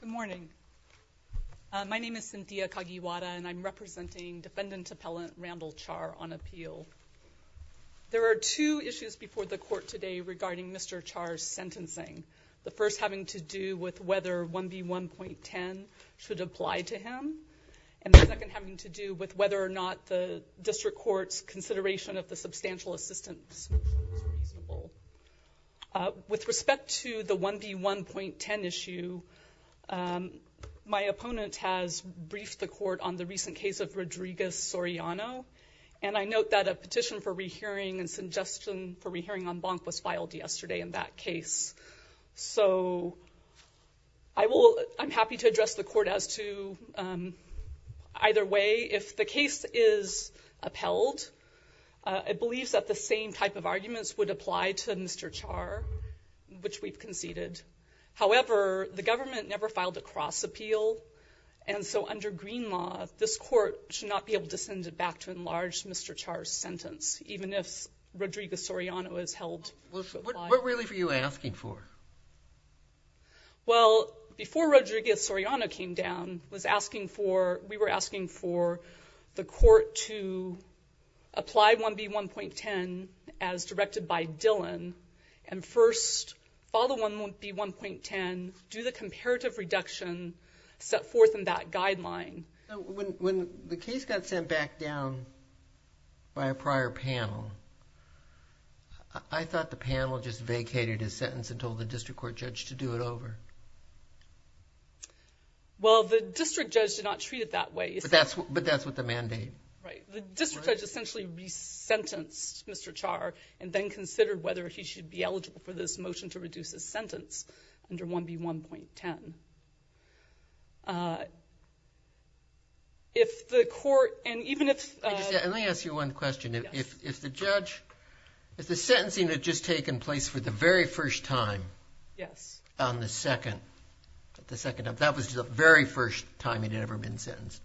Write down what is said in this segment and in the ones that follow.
Good morning. My name is Cynthia Kagiwara, and I'm representing Defendant Appellant Randall Char on appeal. There are two issues before the court today regarding Mr. Char's sentencing, the first having to do with whether 1B1.10 should apply to him, and the second having to do with whether or not the district court's consideration of the substantial assistance motion is feasible. With respect to the 1B1.10 issue, my opponent has briefed the court on the recent case of Rodriguez-Soriano, and I note that a petition for re-hearing and suggestion for re-hearing on Bonk was filed yesterday in that case. So I'm happy to address the court as to either way. If the case is upheld, it believes that the same type of arguments would apply to Mr. Char, which we've conceded. However, the government never filed a cross-appeal, and so under green law, this court should not be able to send it back to enlarge Mr. Char's sentence, even if Rodriguez-Soriano is held to apply. What really were you asking for? Well, before Rodriguez-Soriano came down, we were asking for the court to apply 1B1.10 as directed by Dillon, and first follow 1B1.10, do the comparative reduction set forth in that guideline. When the case got sent back down by a prior panel, I thought the panel just vacated his sentence and told the district court judge to do it over. Well, the district judge did not treat it that way. But that's what the mandate. Right. The district judge essentially resentenced Mr. Char and then considered whether he should be eligible for this motion to reduce his sentence under 1B1.10. If the court, and even if... Let me ask you one question. If the judge, if the sentencing had just taken place for the very first time on the second, that was the very first time he'd ever been sentenced,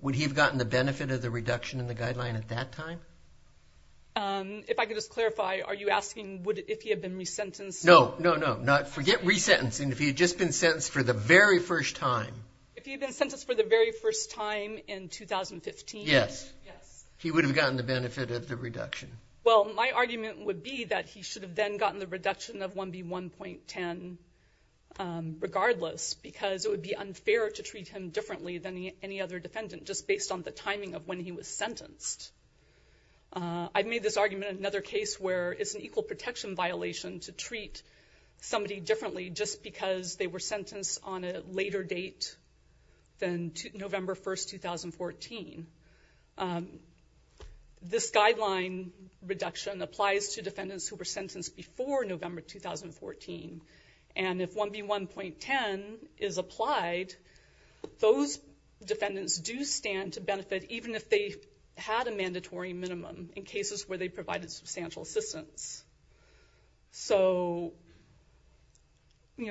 would he have gotten the benefit of the reduction in the guideline at that time? If I could just clarify, are you asking if he had been resentenced? No, no, no, forget resentencing. If he had just been sentenced for the very first time... If he had been sentenced for the very first time in 2015... Yes. Yes. He would have gotten the benefit of the reduction. Well, my argument would be that he should have then gotten the reduction of 1B1.10 regardless, because it would be unfair to treat him differently than any other defendant just based on the timing of when he was sentenced. I've made this argument in another case where it's an equal protection violation to treat somebody differently just because they were sentenced on a later date than November 1st, 2014. This guideline reduction applies to defendants who were sentenced before November 2014, and if 1B1.10 is applied, those defendants do stand to benefit even if they had a mandatory minimum in cases where they provided substantial assistance.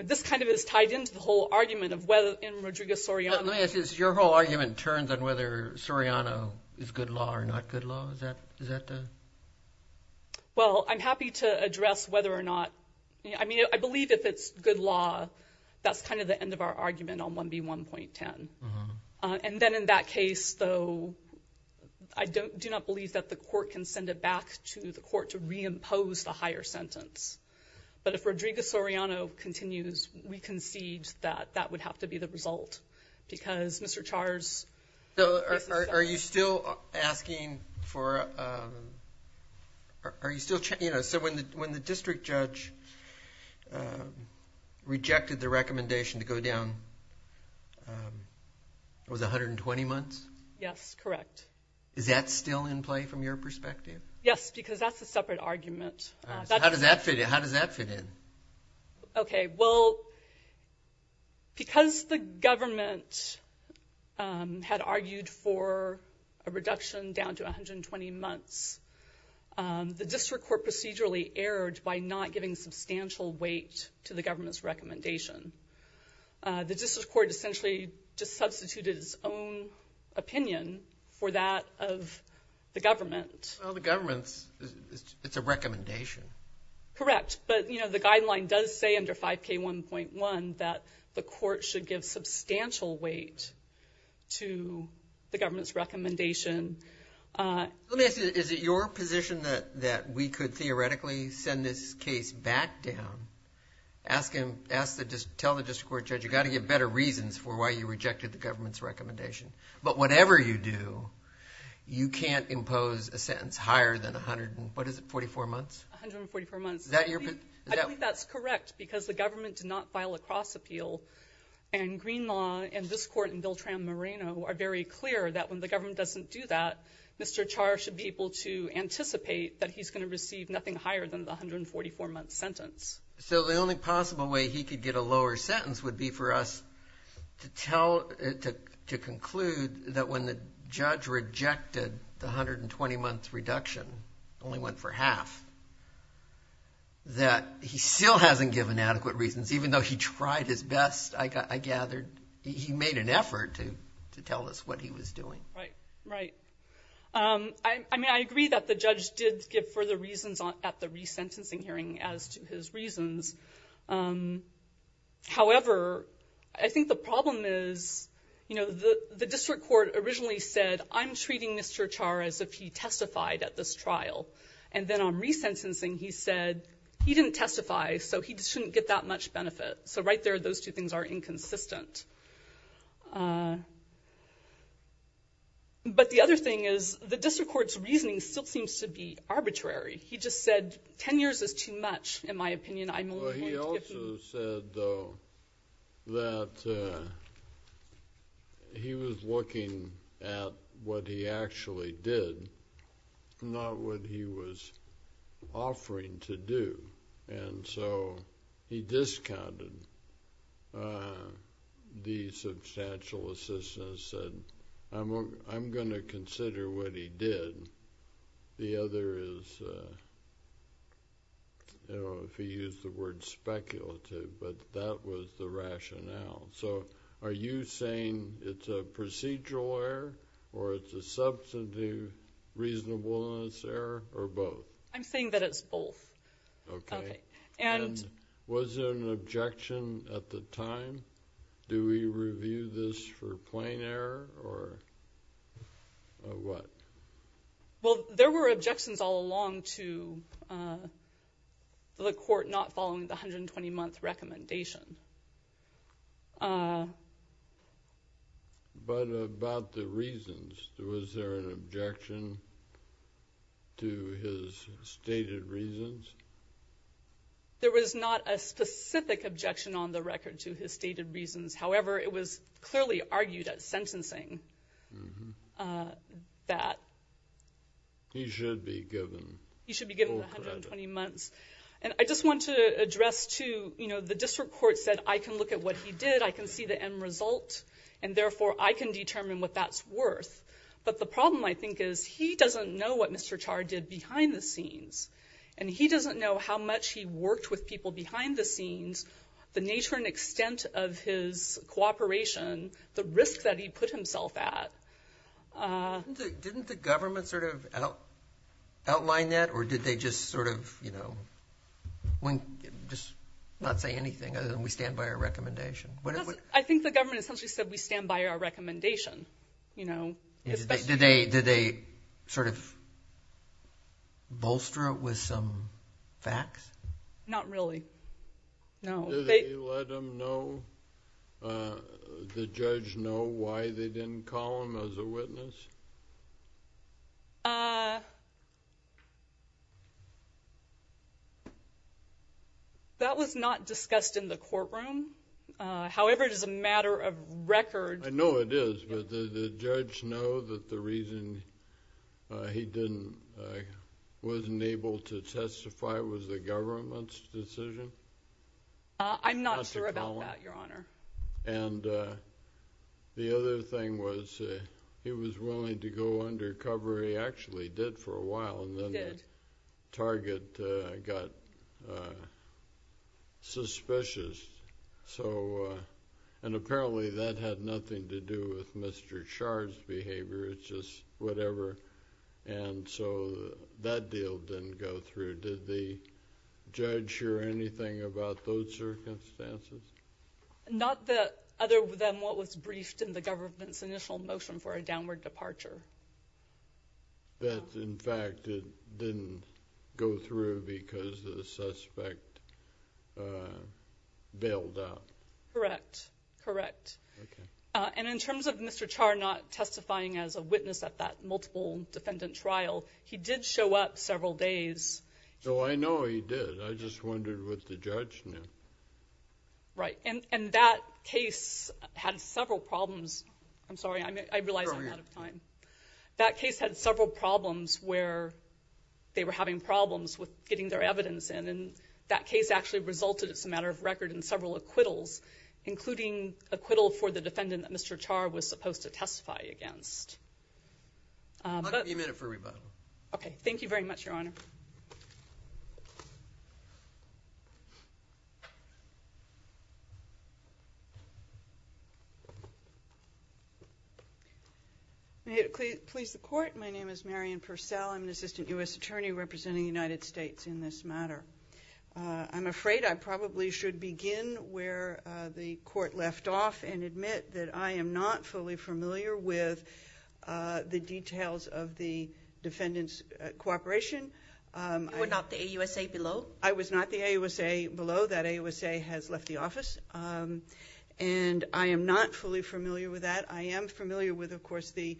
This kind of is tied into the whole argument of whether in Rodrigo Soriano... Let me ask you this. Your whole argument turns on whether Soriano is good law or not good law. Is that the... Well, I'm happy to address whether or not... I mean, I believe if it's good law, that's kind of the end of our argument on 1B1.10. And then in that case, though, I do not believe that the court can send it back to the court to reimpose the higher sentence. But if Rodrigo Soriano continues, we concede that that would have to be the result, because Mr. Charles... So are you still asking for... Are you still... So when the district judge rejected the recommendation to go down, it was 120 months? Yes, correct. Is that still in play from your perspective? Yes, because that's a separate argument. How does that fit in? Okay, well, because the government had argued for a reduction down to 120 months, the district court procedurally erred by not giving substantial weight to the government's recommendation. The district court essentially just substituted its own opinion for that of the government. Well, the government's, it's a recommendation. Correct. But, you know, the guideline does say under 5K1.1 that the court should give substantial weight to the government's recommendation. Let me ask you, is it your position that we could theoretically send this case back down? Tell the district court judge, you've got to give better reasons for why you rejected the government's recommendation. But whatever you do, you can't impose a sentence higher than 100, what is it, 44 months? 144 months. Is that your position? I think that's correct, because the government did not file a cross appeal, and Greenlaw and this court and Bill Tran-Moreno are very clear that when the government doesn't do that, Mr. Char should be able to anticipate that he's going to receive nothing higher than the 144-month sentence. So the only possible way he could get a lower sentence would be for us to tell, to conclude that when the judge rejected the 120-month reduction, only went for half, that he still hasn't given adequate reasons, even though he tried his best, I gathered, he made an effort to tell us what he was doing. Right, right. I mean, I agree that the judge did give further reasons at the resentencing hearing as to his reasons. However, I think the problem is, you know, the district court originally said, I'm treating Mr. Char as if he testified at this trial. And then on resentencing, he said, he didn't testify, so he shouldn't get that much benefit. So right there, those two things are inconsistent. But the other thing is, the district court's reasoning still seems to be arbitrary. He just said 10 years is too much, in my opinion. Well, he also said, though, that he was looking at what he actually did, not what he was offering to do. And so he discounted the substantial assistance and said, I'm going to consider what he did. The other is, I don't know if he used the word speculative, but that was the rationale. So are you saying it's a procedural error, or it's a substantive reasonableness error, or both? I'm saying that it's both. Okay. And was there an objection at the time? Do we review this for plain error, or what? Well, there were objections all along to the court not following the 120-month recommendation. But about the reasons, was there an objection to his stated reasons? There was not a specific objection on the record to his stated reasons. However, it was clearly argued at sentencing that he should be given full credit. And I just want to address, too, the district court said, I can look at what he did, I can see the end result, and therefore I can determine what that's worth. But the problem, I think, is he doesn't know what Mr. Char did behind the scenes. And he doesn't know how much he worked with people behind the scenes, the nature and extent of his cooperation, the risk that he put himself at. Didn't the government sort of outline that, or did they just sort of, you know, just not say anything other than we stand by our recommendation? I think the government essentially said we stand by our recommendation. Did they sort of bolster it with some facts? Not really, no. Did they let the judge know why they didn't call him as a witness? That was not discussed in the courtroom. However, it is a matter of record. I know it is, but did the judge know that the reason he wasn't able to testify was the government's decision? I'm not sure about that, Your Honor. And the other thing was he was willing to go undercover. He actually did for a while, and then the target got suspicious. And apparently that had nothing to do with Mr. Char's behavior. It's just whatever. And so that deal didn't go through. Did the judge hear anything about those circumstances? Not other than what was briefed in the government's initial motion for a downward departure. That, in fact, it didn't go through because the suspect bailed out. Correct, correct. And in terms of Mr. Char not testifying as a witness at that multiple defendant trial, he did show up several days. Oh, I know he did. I just wondered what the judge knew. Right, and that case had several problems. I'm sorry, I realize I'm out of time. That case had several problems where they were having problems with getting their evidence in, and that case actually resulted, as a matter of record, in several acquittals, including acquittal for the defendant that Mr. Char was supposed to testify against. I'll give you a minute for rebuttal. Okay, thank you very much, Your Honor. May it please the Court, my name is Marian Purcell. I'm an assistant U.S. attorney representing the United States in this matter. I'm afraid I probably should begin where the Court left off and admit that I am not fully familiar with the details of the defendant's cooperation. You were not the AUSA below? I was not the AUSA below. That AUSA has left the office. And I am not fully familiar with that. I am familiar with, of course, the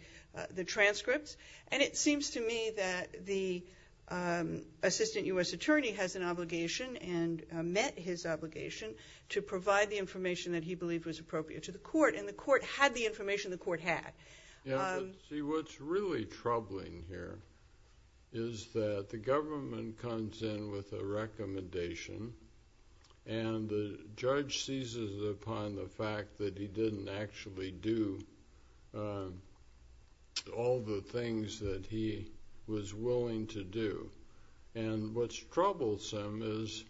transcripts, and it seems to me that the assistant U.S. attorney has an obligation and met his obligation to provide the information that he believed was appropriate to the Court, and the Court had the information the Court had. See, what's really troubling here is that the government comes in with a recommendation and the judge seizes upon the fact that he didn't actually do all the things that he was willing to do. And what's troublesome is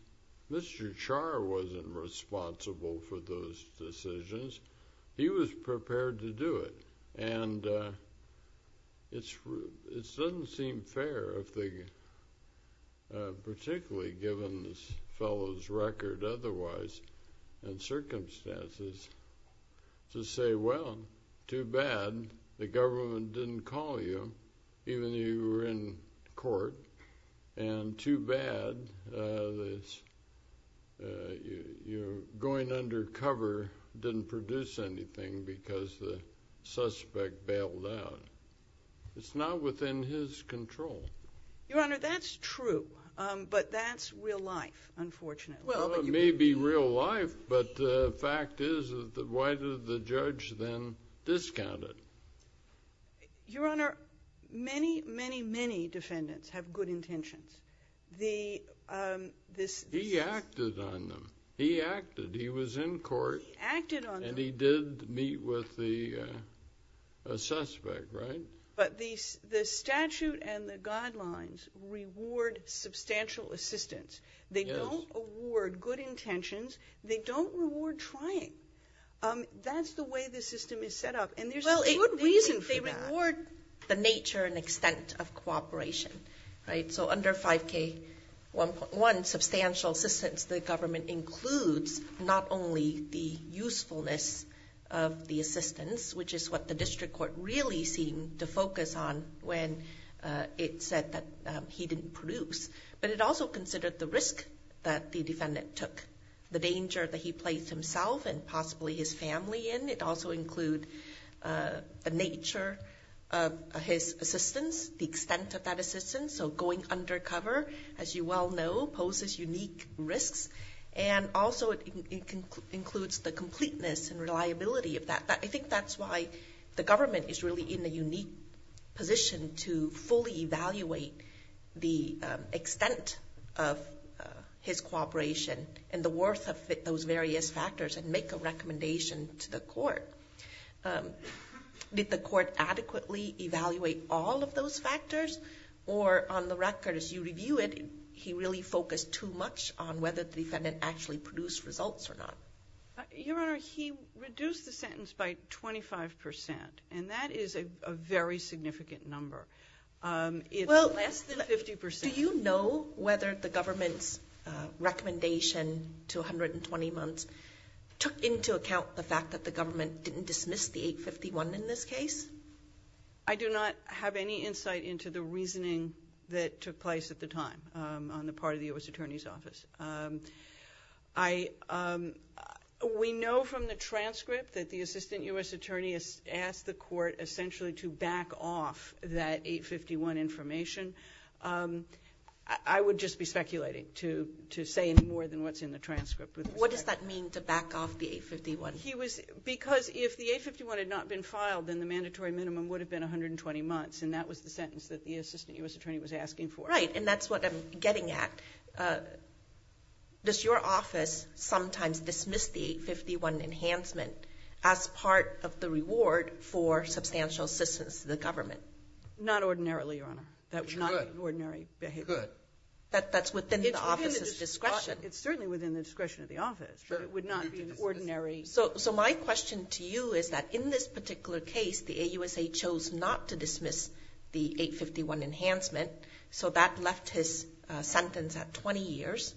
Mr. Char wasn't responsible for those decisions. He was prepared to do it. And it doesn't seem fair, particularly given this fellow's record otherwise and circumstances, to say, well, too bad the government didn't call you even though you were in court, and too bad going undercover didn't produce anything because the suspect bailed out. It's not within his control. Your Honor, that's true, but that's real life, unfortunately. Well, it may be real life, but the fact is, why did the judge then discount it? Your Honor, many, many, many defendants have good intentions. He acted on them. He acted. He was in court. He acted on them. And he did meet with the suspect, right? But the statute and the guidelines reward substantial assistance. They don't award good intentions. They don't reward trying. That's the way the system is set up. And there's a good reason for that. Well, they reward the nature and extent of cooperation, right? So under 5K1.1, substantial assistance to the government includes not only the usefulness of the assistance, which is what the district court really seemed to focus on when it said that he didn't produce, but it also considered the risk that the defendant took, the danger that he placed himself and possibly his family in. It also includes the nature of his assistance, the extent of that assistance. So going undercover, as you well know, poses unique risks. And also it includes the completeness and reliability of that. I think that's why the government is really in a unique position to fully evaluate the extent of his cooperation and the worth of those various factors and make a recommendation to the court. Did the court adequately evaluate all of those factors? Or on the record, as you review it, he really focused too much on whether the defendant actually produced results or not? Your Honor, he reduced the sentence by 25%. And that is a very significant number. It's less than 50%. Do you know whether the government's recommendation to 120 months took into account the fact that the government didn't dismiss the 851 in this case? I do not have any insight into the reasoning that took place at the time on the part of the U.S. Attorney's Office. We know from the transcript that the Assistant U.S. Attorney asked the court essentially to back off that 851 information. I would just be speculating to say any more than what's in the transcript. What does that mean, to back off the 851? Because if the 851 had not been filed, then the mandatory minimum would have been 120 months. And that was the sentence that the Assistant U.S. Attorney was asking for. Right, and that's what I'm getting at. Does your office sometimes dismiss the 851 enhancement as part of the reward for substantial assistance to the government? Not ordinarily, Your Honor. That would not be ordinary behavior. That's within the office's discretion. It's certainly within the discretion of the office, but it would not be an ordinary behavior. So my question to you is that in this particular case, the AUSA chose not to dismiss the 851 enhancement. So that left his sentence at 20 years,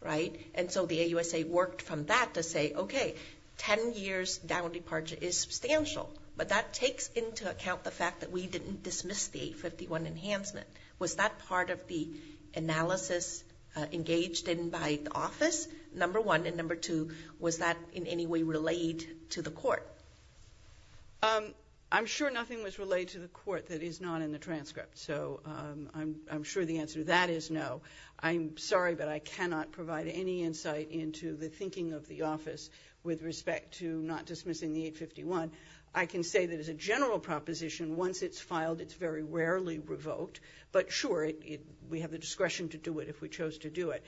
right? And so the AUSA worked from that to say, okay, 10 years down departure is substantial. But that takes into account the fact that we didn't dismiss the 851 enhancement. Was that part of the analysis engaged in by the office, number one? And number two, was that in any way relayed to the court? I'm sure nothing was relayed to the court that is not in the transcript. So I'm sure the answer to that is no. I'm sorry, but I cannot provide any insight into the thinking of the office with respect to not dismissing the 851. I can say that as a general proposition, once it's filed, it's very rarely revoked. But sure, we have the discretion to do it if we chose to do it.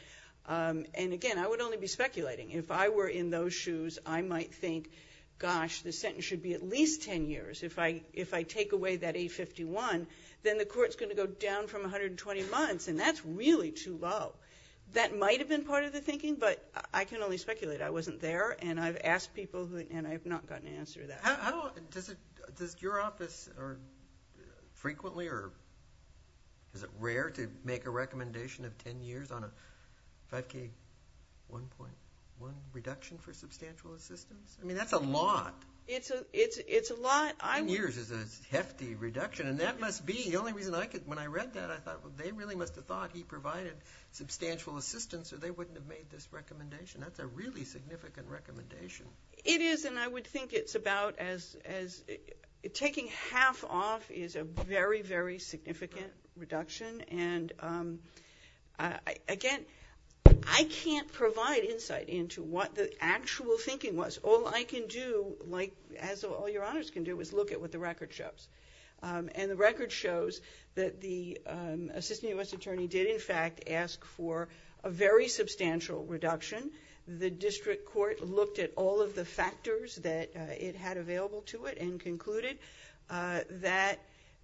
And again, I would only be speculating. If I were in those shoes, I might think, gosh, the sentence should be at least 10 years. If I take away that 851, then the court's going to go down from 120 months, and that's really too low. That might have been part of the thinking, but I can only speculate. I wasn't there, and I've asked people, and I've not gotten an answer to that. Does your office frequently or is it rare to make a recommendation of 10 years on a 5K1.1 reduction for substantial assistance? I mean, that's a lot. It's a lot. Ten years is a hefty reduction, and that must be the only reason I could. When I read that, I thought they really must have thought he provided substantial assistance or they wouldn't have made this recommendation. That's a really significant recommendation. It is, and I would think it's about as taking half off is a very, very significant reduction. And again, I can't provide insight into what the actual thinking was. All I can do, as all your honors can do, is look at what the record shows. And the record shows that the assistant U.S. attorney did, in fact, ask for a very substantial reduction. The district court looked at all of the factors that it had available to it and concluded that,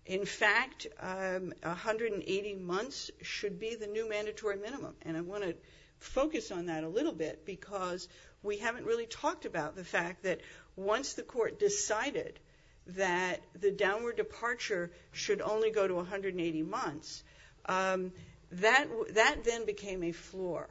in fact, 180 months should be the new mandatory minimum. And I want to focus on that a little bit because we haven't really talked about the fact that once the court decided that the downward departure should only go to 180 months, that then became a floor.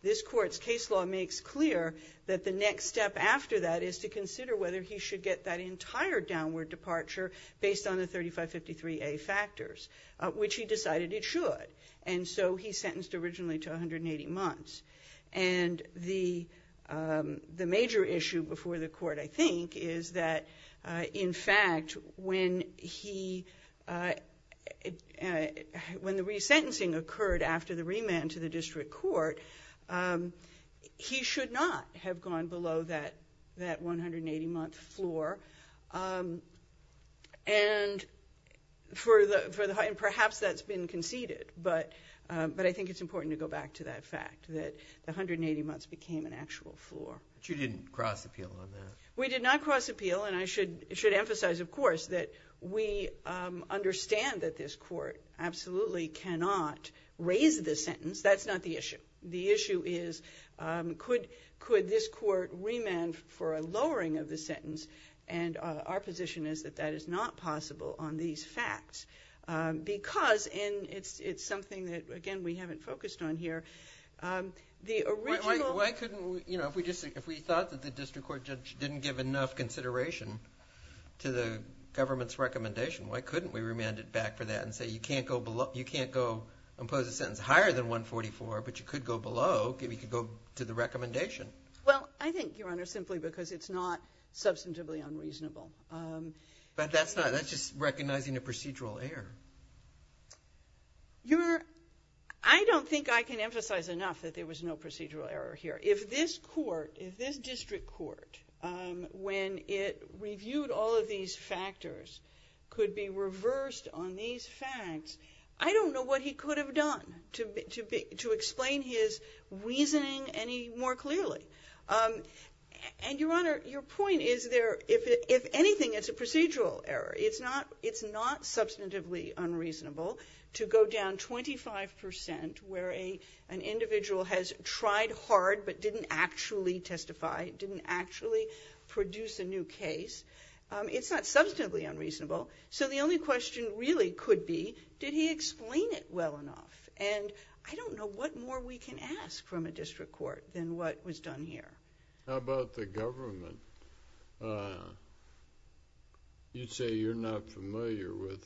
This court's case law makes clear that the next step after that is to consider whether he should get that entire downward departure based on the 3553A factors, which he decided it should. And so he's sentenced originally to 180 months. And the major issue before the court, I think, is that, in fact, when the resentencing occurred after the remand to the district court, he should not have gone below that 180-month floor. And perhaps that's been conceded, but I think it's important to go back to that fact, that the 180 months became an actual floor. But you didn't cross-appeal on that? We did not cross-appeal. And I should emphasize, of course, that we understand that this court absolutely cannot raise the sentence. That's not the issue. The issue is, could this court remand for a lowering of the sentence? And our position is that that is not possible on these facts because it's something that, again, we haven't focused on here. If we thought that the district court judge didn't give enough consideration to the government's recommendation, why couldn't we remand it back for that and say you can't impose a sentence higher than 144, but you could go below, you could go to the recommendation? Well, I think, Your Honor, simply because it's not substantively unreasonable. But that's just recognizing a procedural error. Your Honor, I don't think I can emphasize enough that there was no procedural error here. If this court, if this district court, when it reviewed all of these factors, could be reversed on these facts, I don't know what he could have done to explain his reasoning any more clearly. And, Your Honor, your point is there, if anything, it's a procedural error. It's not substantively unreasonable to go down 25% where an individual has tried hard but didn't actually testify, didn't actually produce a new case. It's not substantively unreasonable. So the only question really could be, did he explain it well enough? And I don't know what more we can ask from a district court than what was done here. How about the government? You say you're not familiar with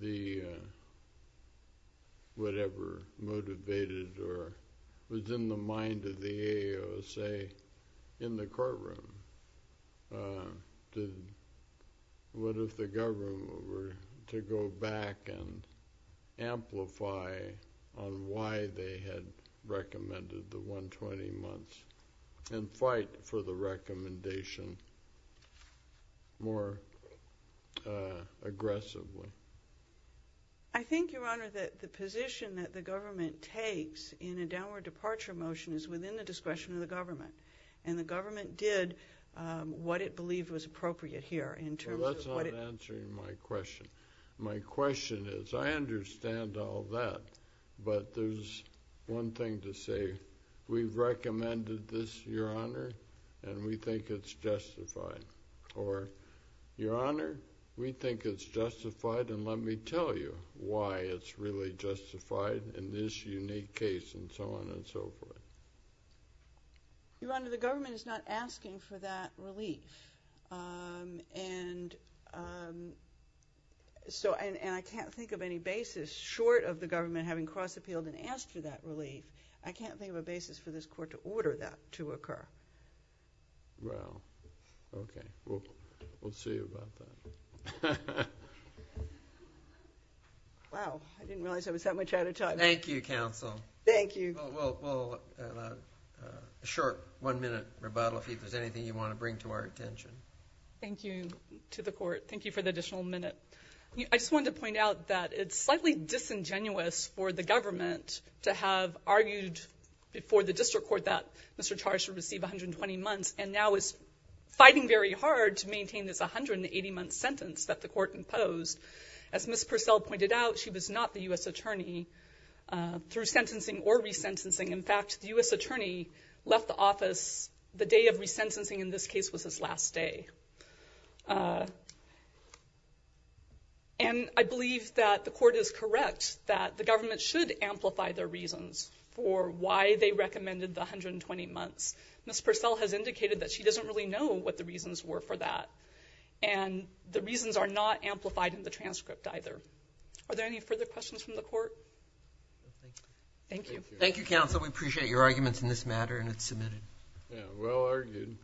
the, whatever motivated or was in the mind of the AOSA in the courtroom. What if the government were to go back and amplify on why they had recommended the 120 months and fight for the recommendation more aggressively? I think, Your Honor, that the position that the government takes in a downward departure motion And the government did what it believed was appropriate here. Well, that's not answering my question. My question is, I understand all that, but there's one thing to say. We've recommended this, Your Honor, and we think it's justified. Or, Your Honor, we think it's justified and let me tell you why it's really justified in this unique case and so on and so forth. Your Honor, the government is not asking for that relief. And I can't think of any basis short of the government having cross-appealed and asked for that relief. I can't think of a basis for this court to order that to occur. Well, okay. We'll see about that. Wow, I didn't realize I was that much out of time. Thank you, counsel. Thank you. Well, in a short one-minute rebuttal, if there's anything you want to bring to our attention. Thank you to the court. Thank you for the additional minute. I just wanted to point out that it's slightly disingenuous for the government to have argued before the district court that Mr. Charge should receive 120 months and now is fighting very hard to maintain this 180-month sentence that the court imposed. As Ms. Purcell pointed out, she was not the U.S. attorney through sentencing or resentencing. In fact, the U.S. attorney left the office the day of resentencing. In this case, it was his last day. And I believe that the court is correct that the government should amplify their reasons for why they recommended the 120 months. Ms. Purcell has indicated that she doesn't really know what the reasons were for that. And the reasons are not amplified in the transcript either. Are there any further questions from the court? No, thank you. Thank you. Thank you, counsel. We appreciate your arguments in this matter and it's submitted. Yeah, well argued.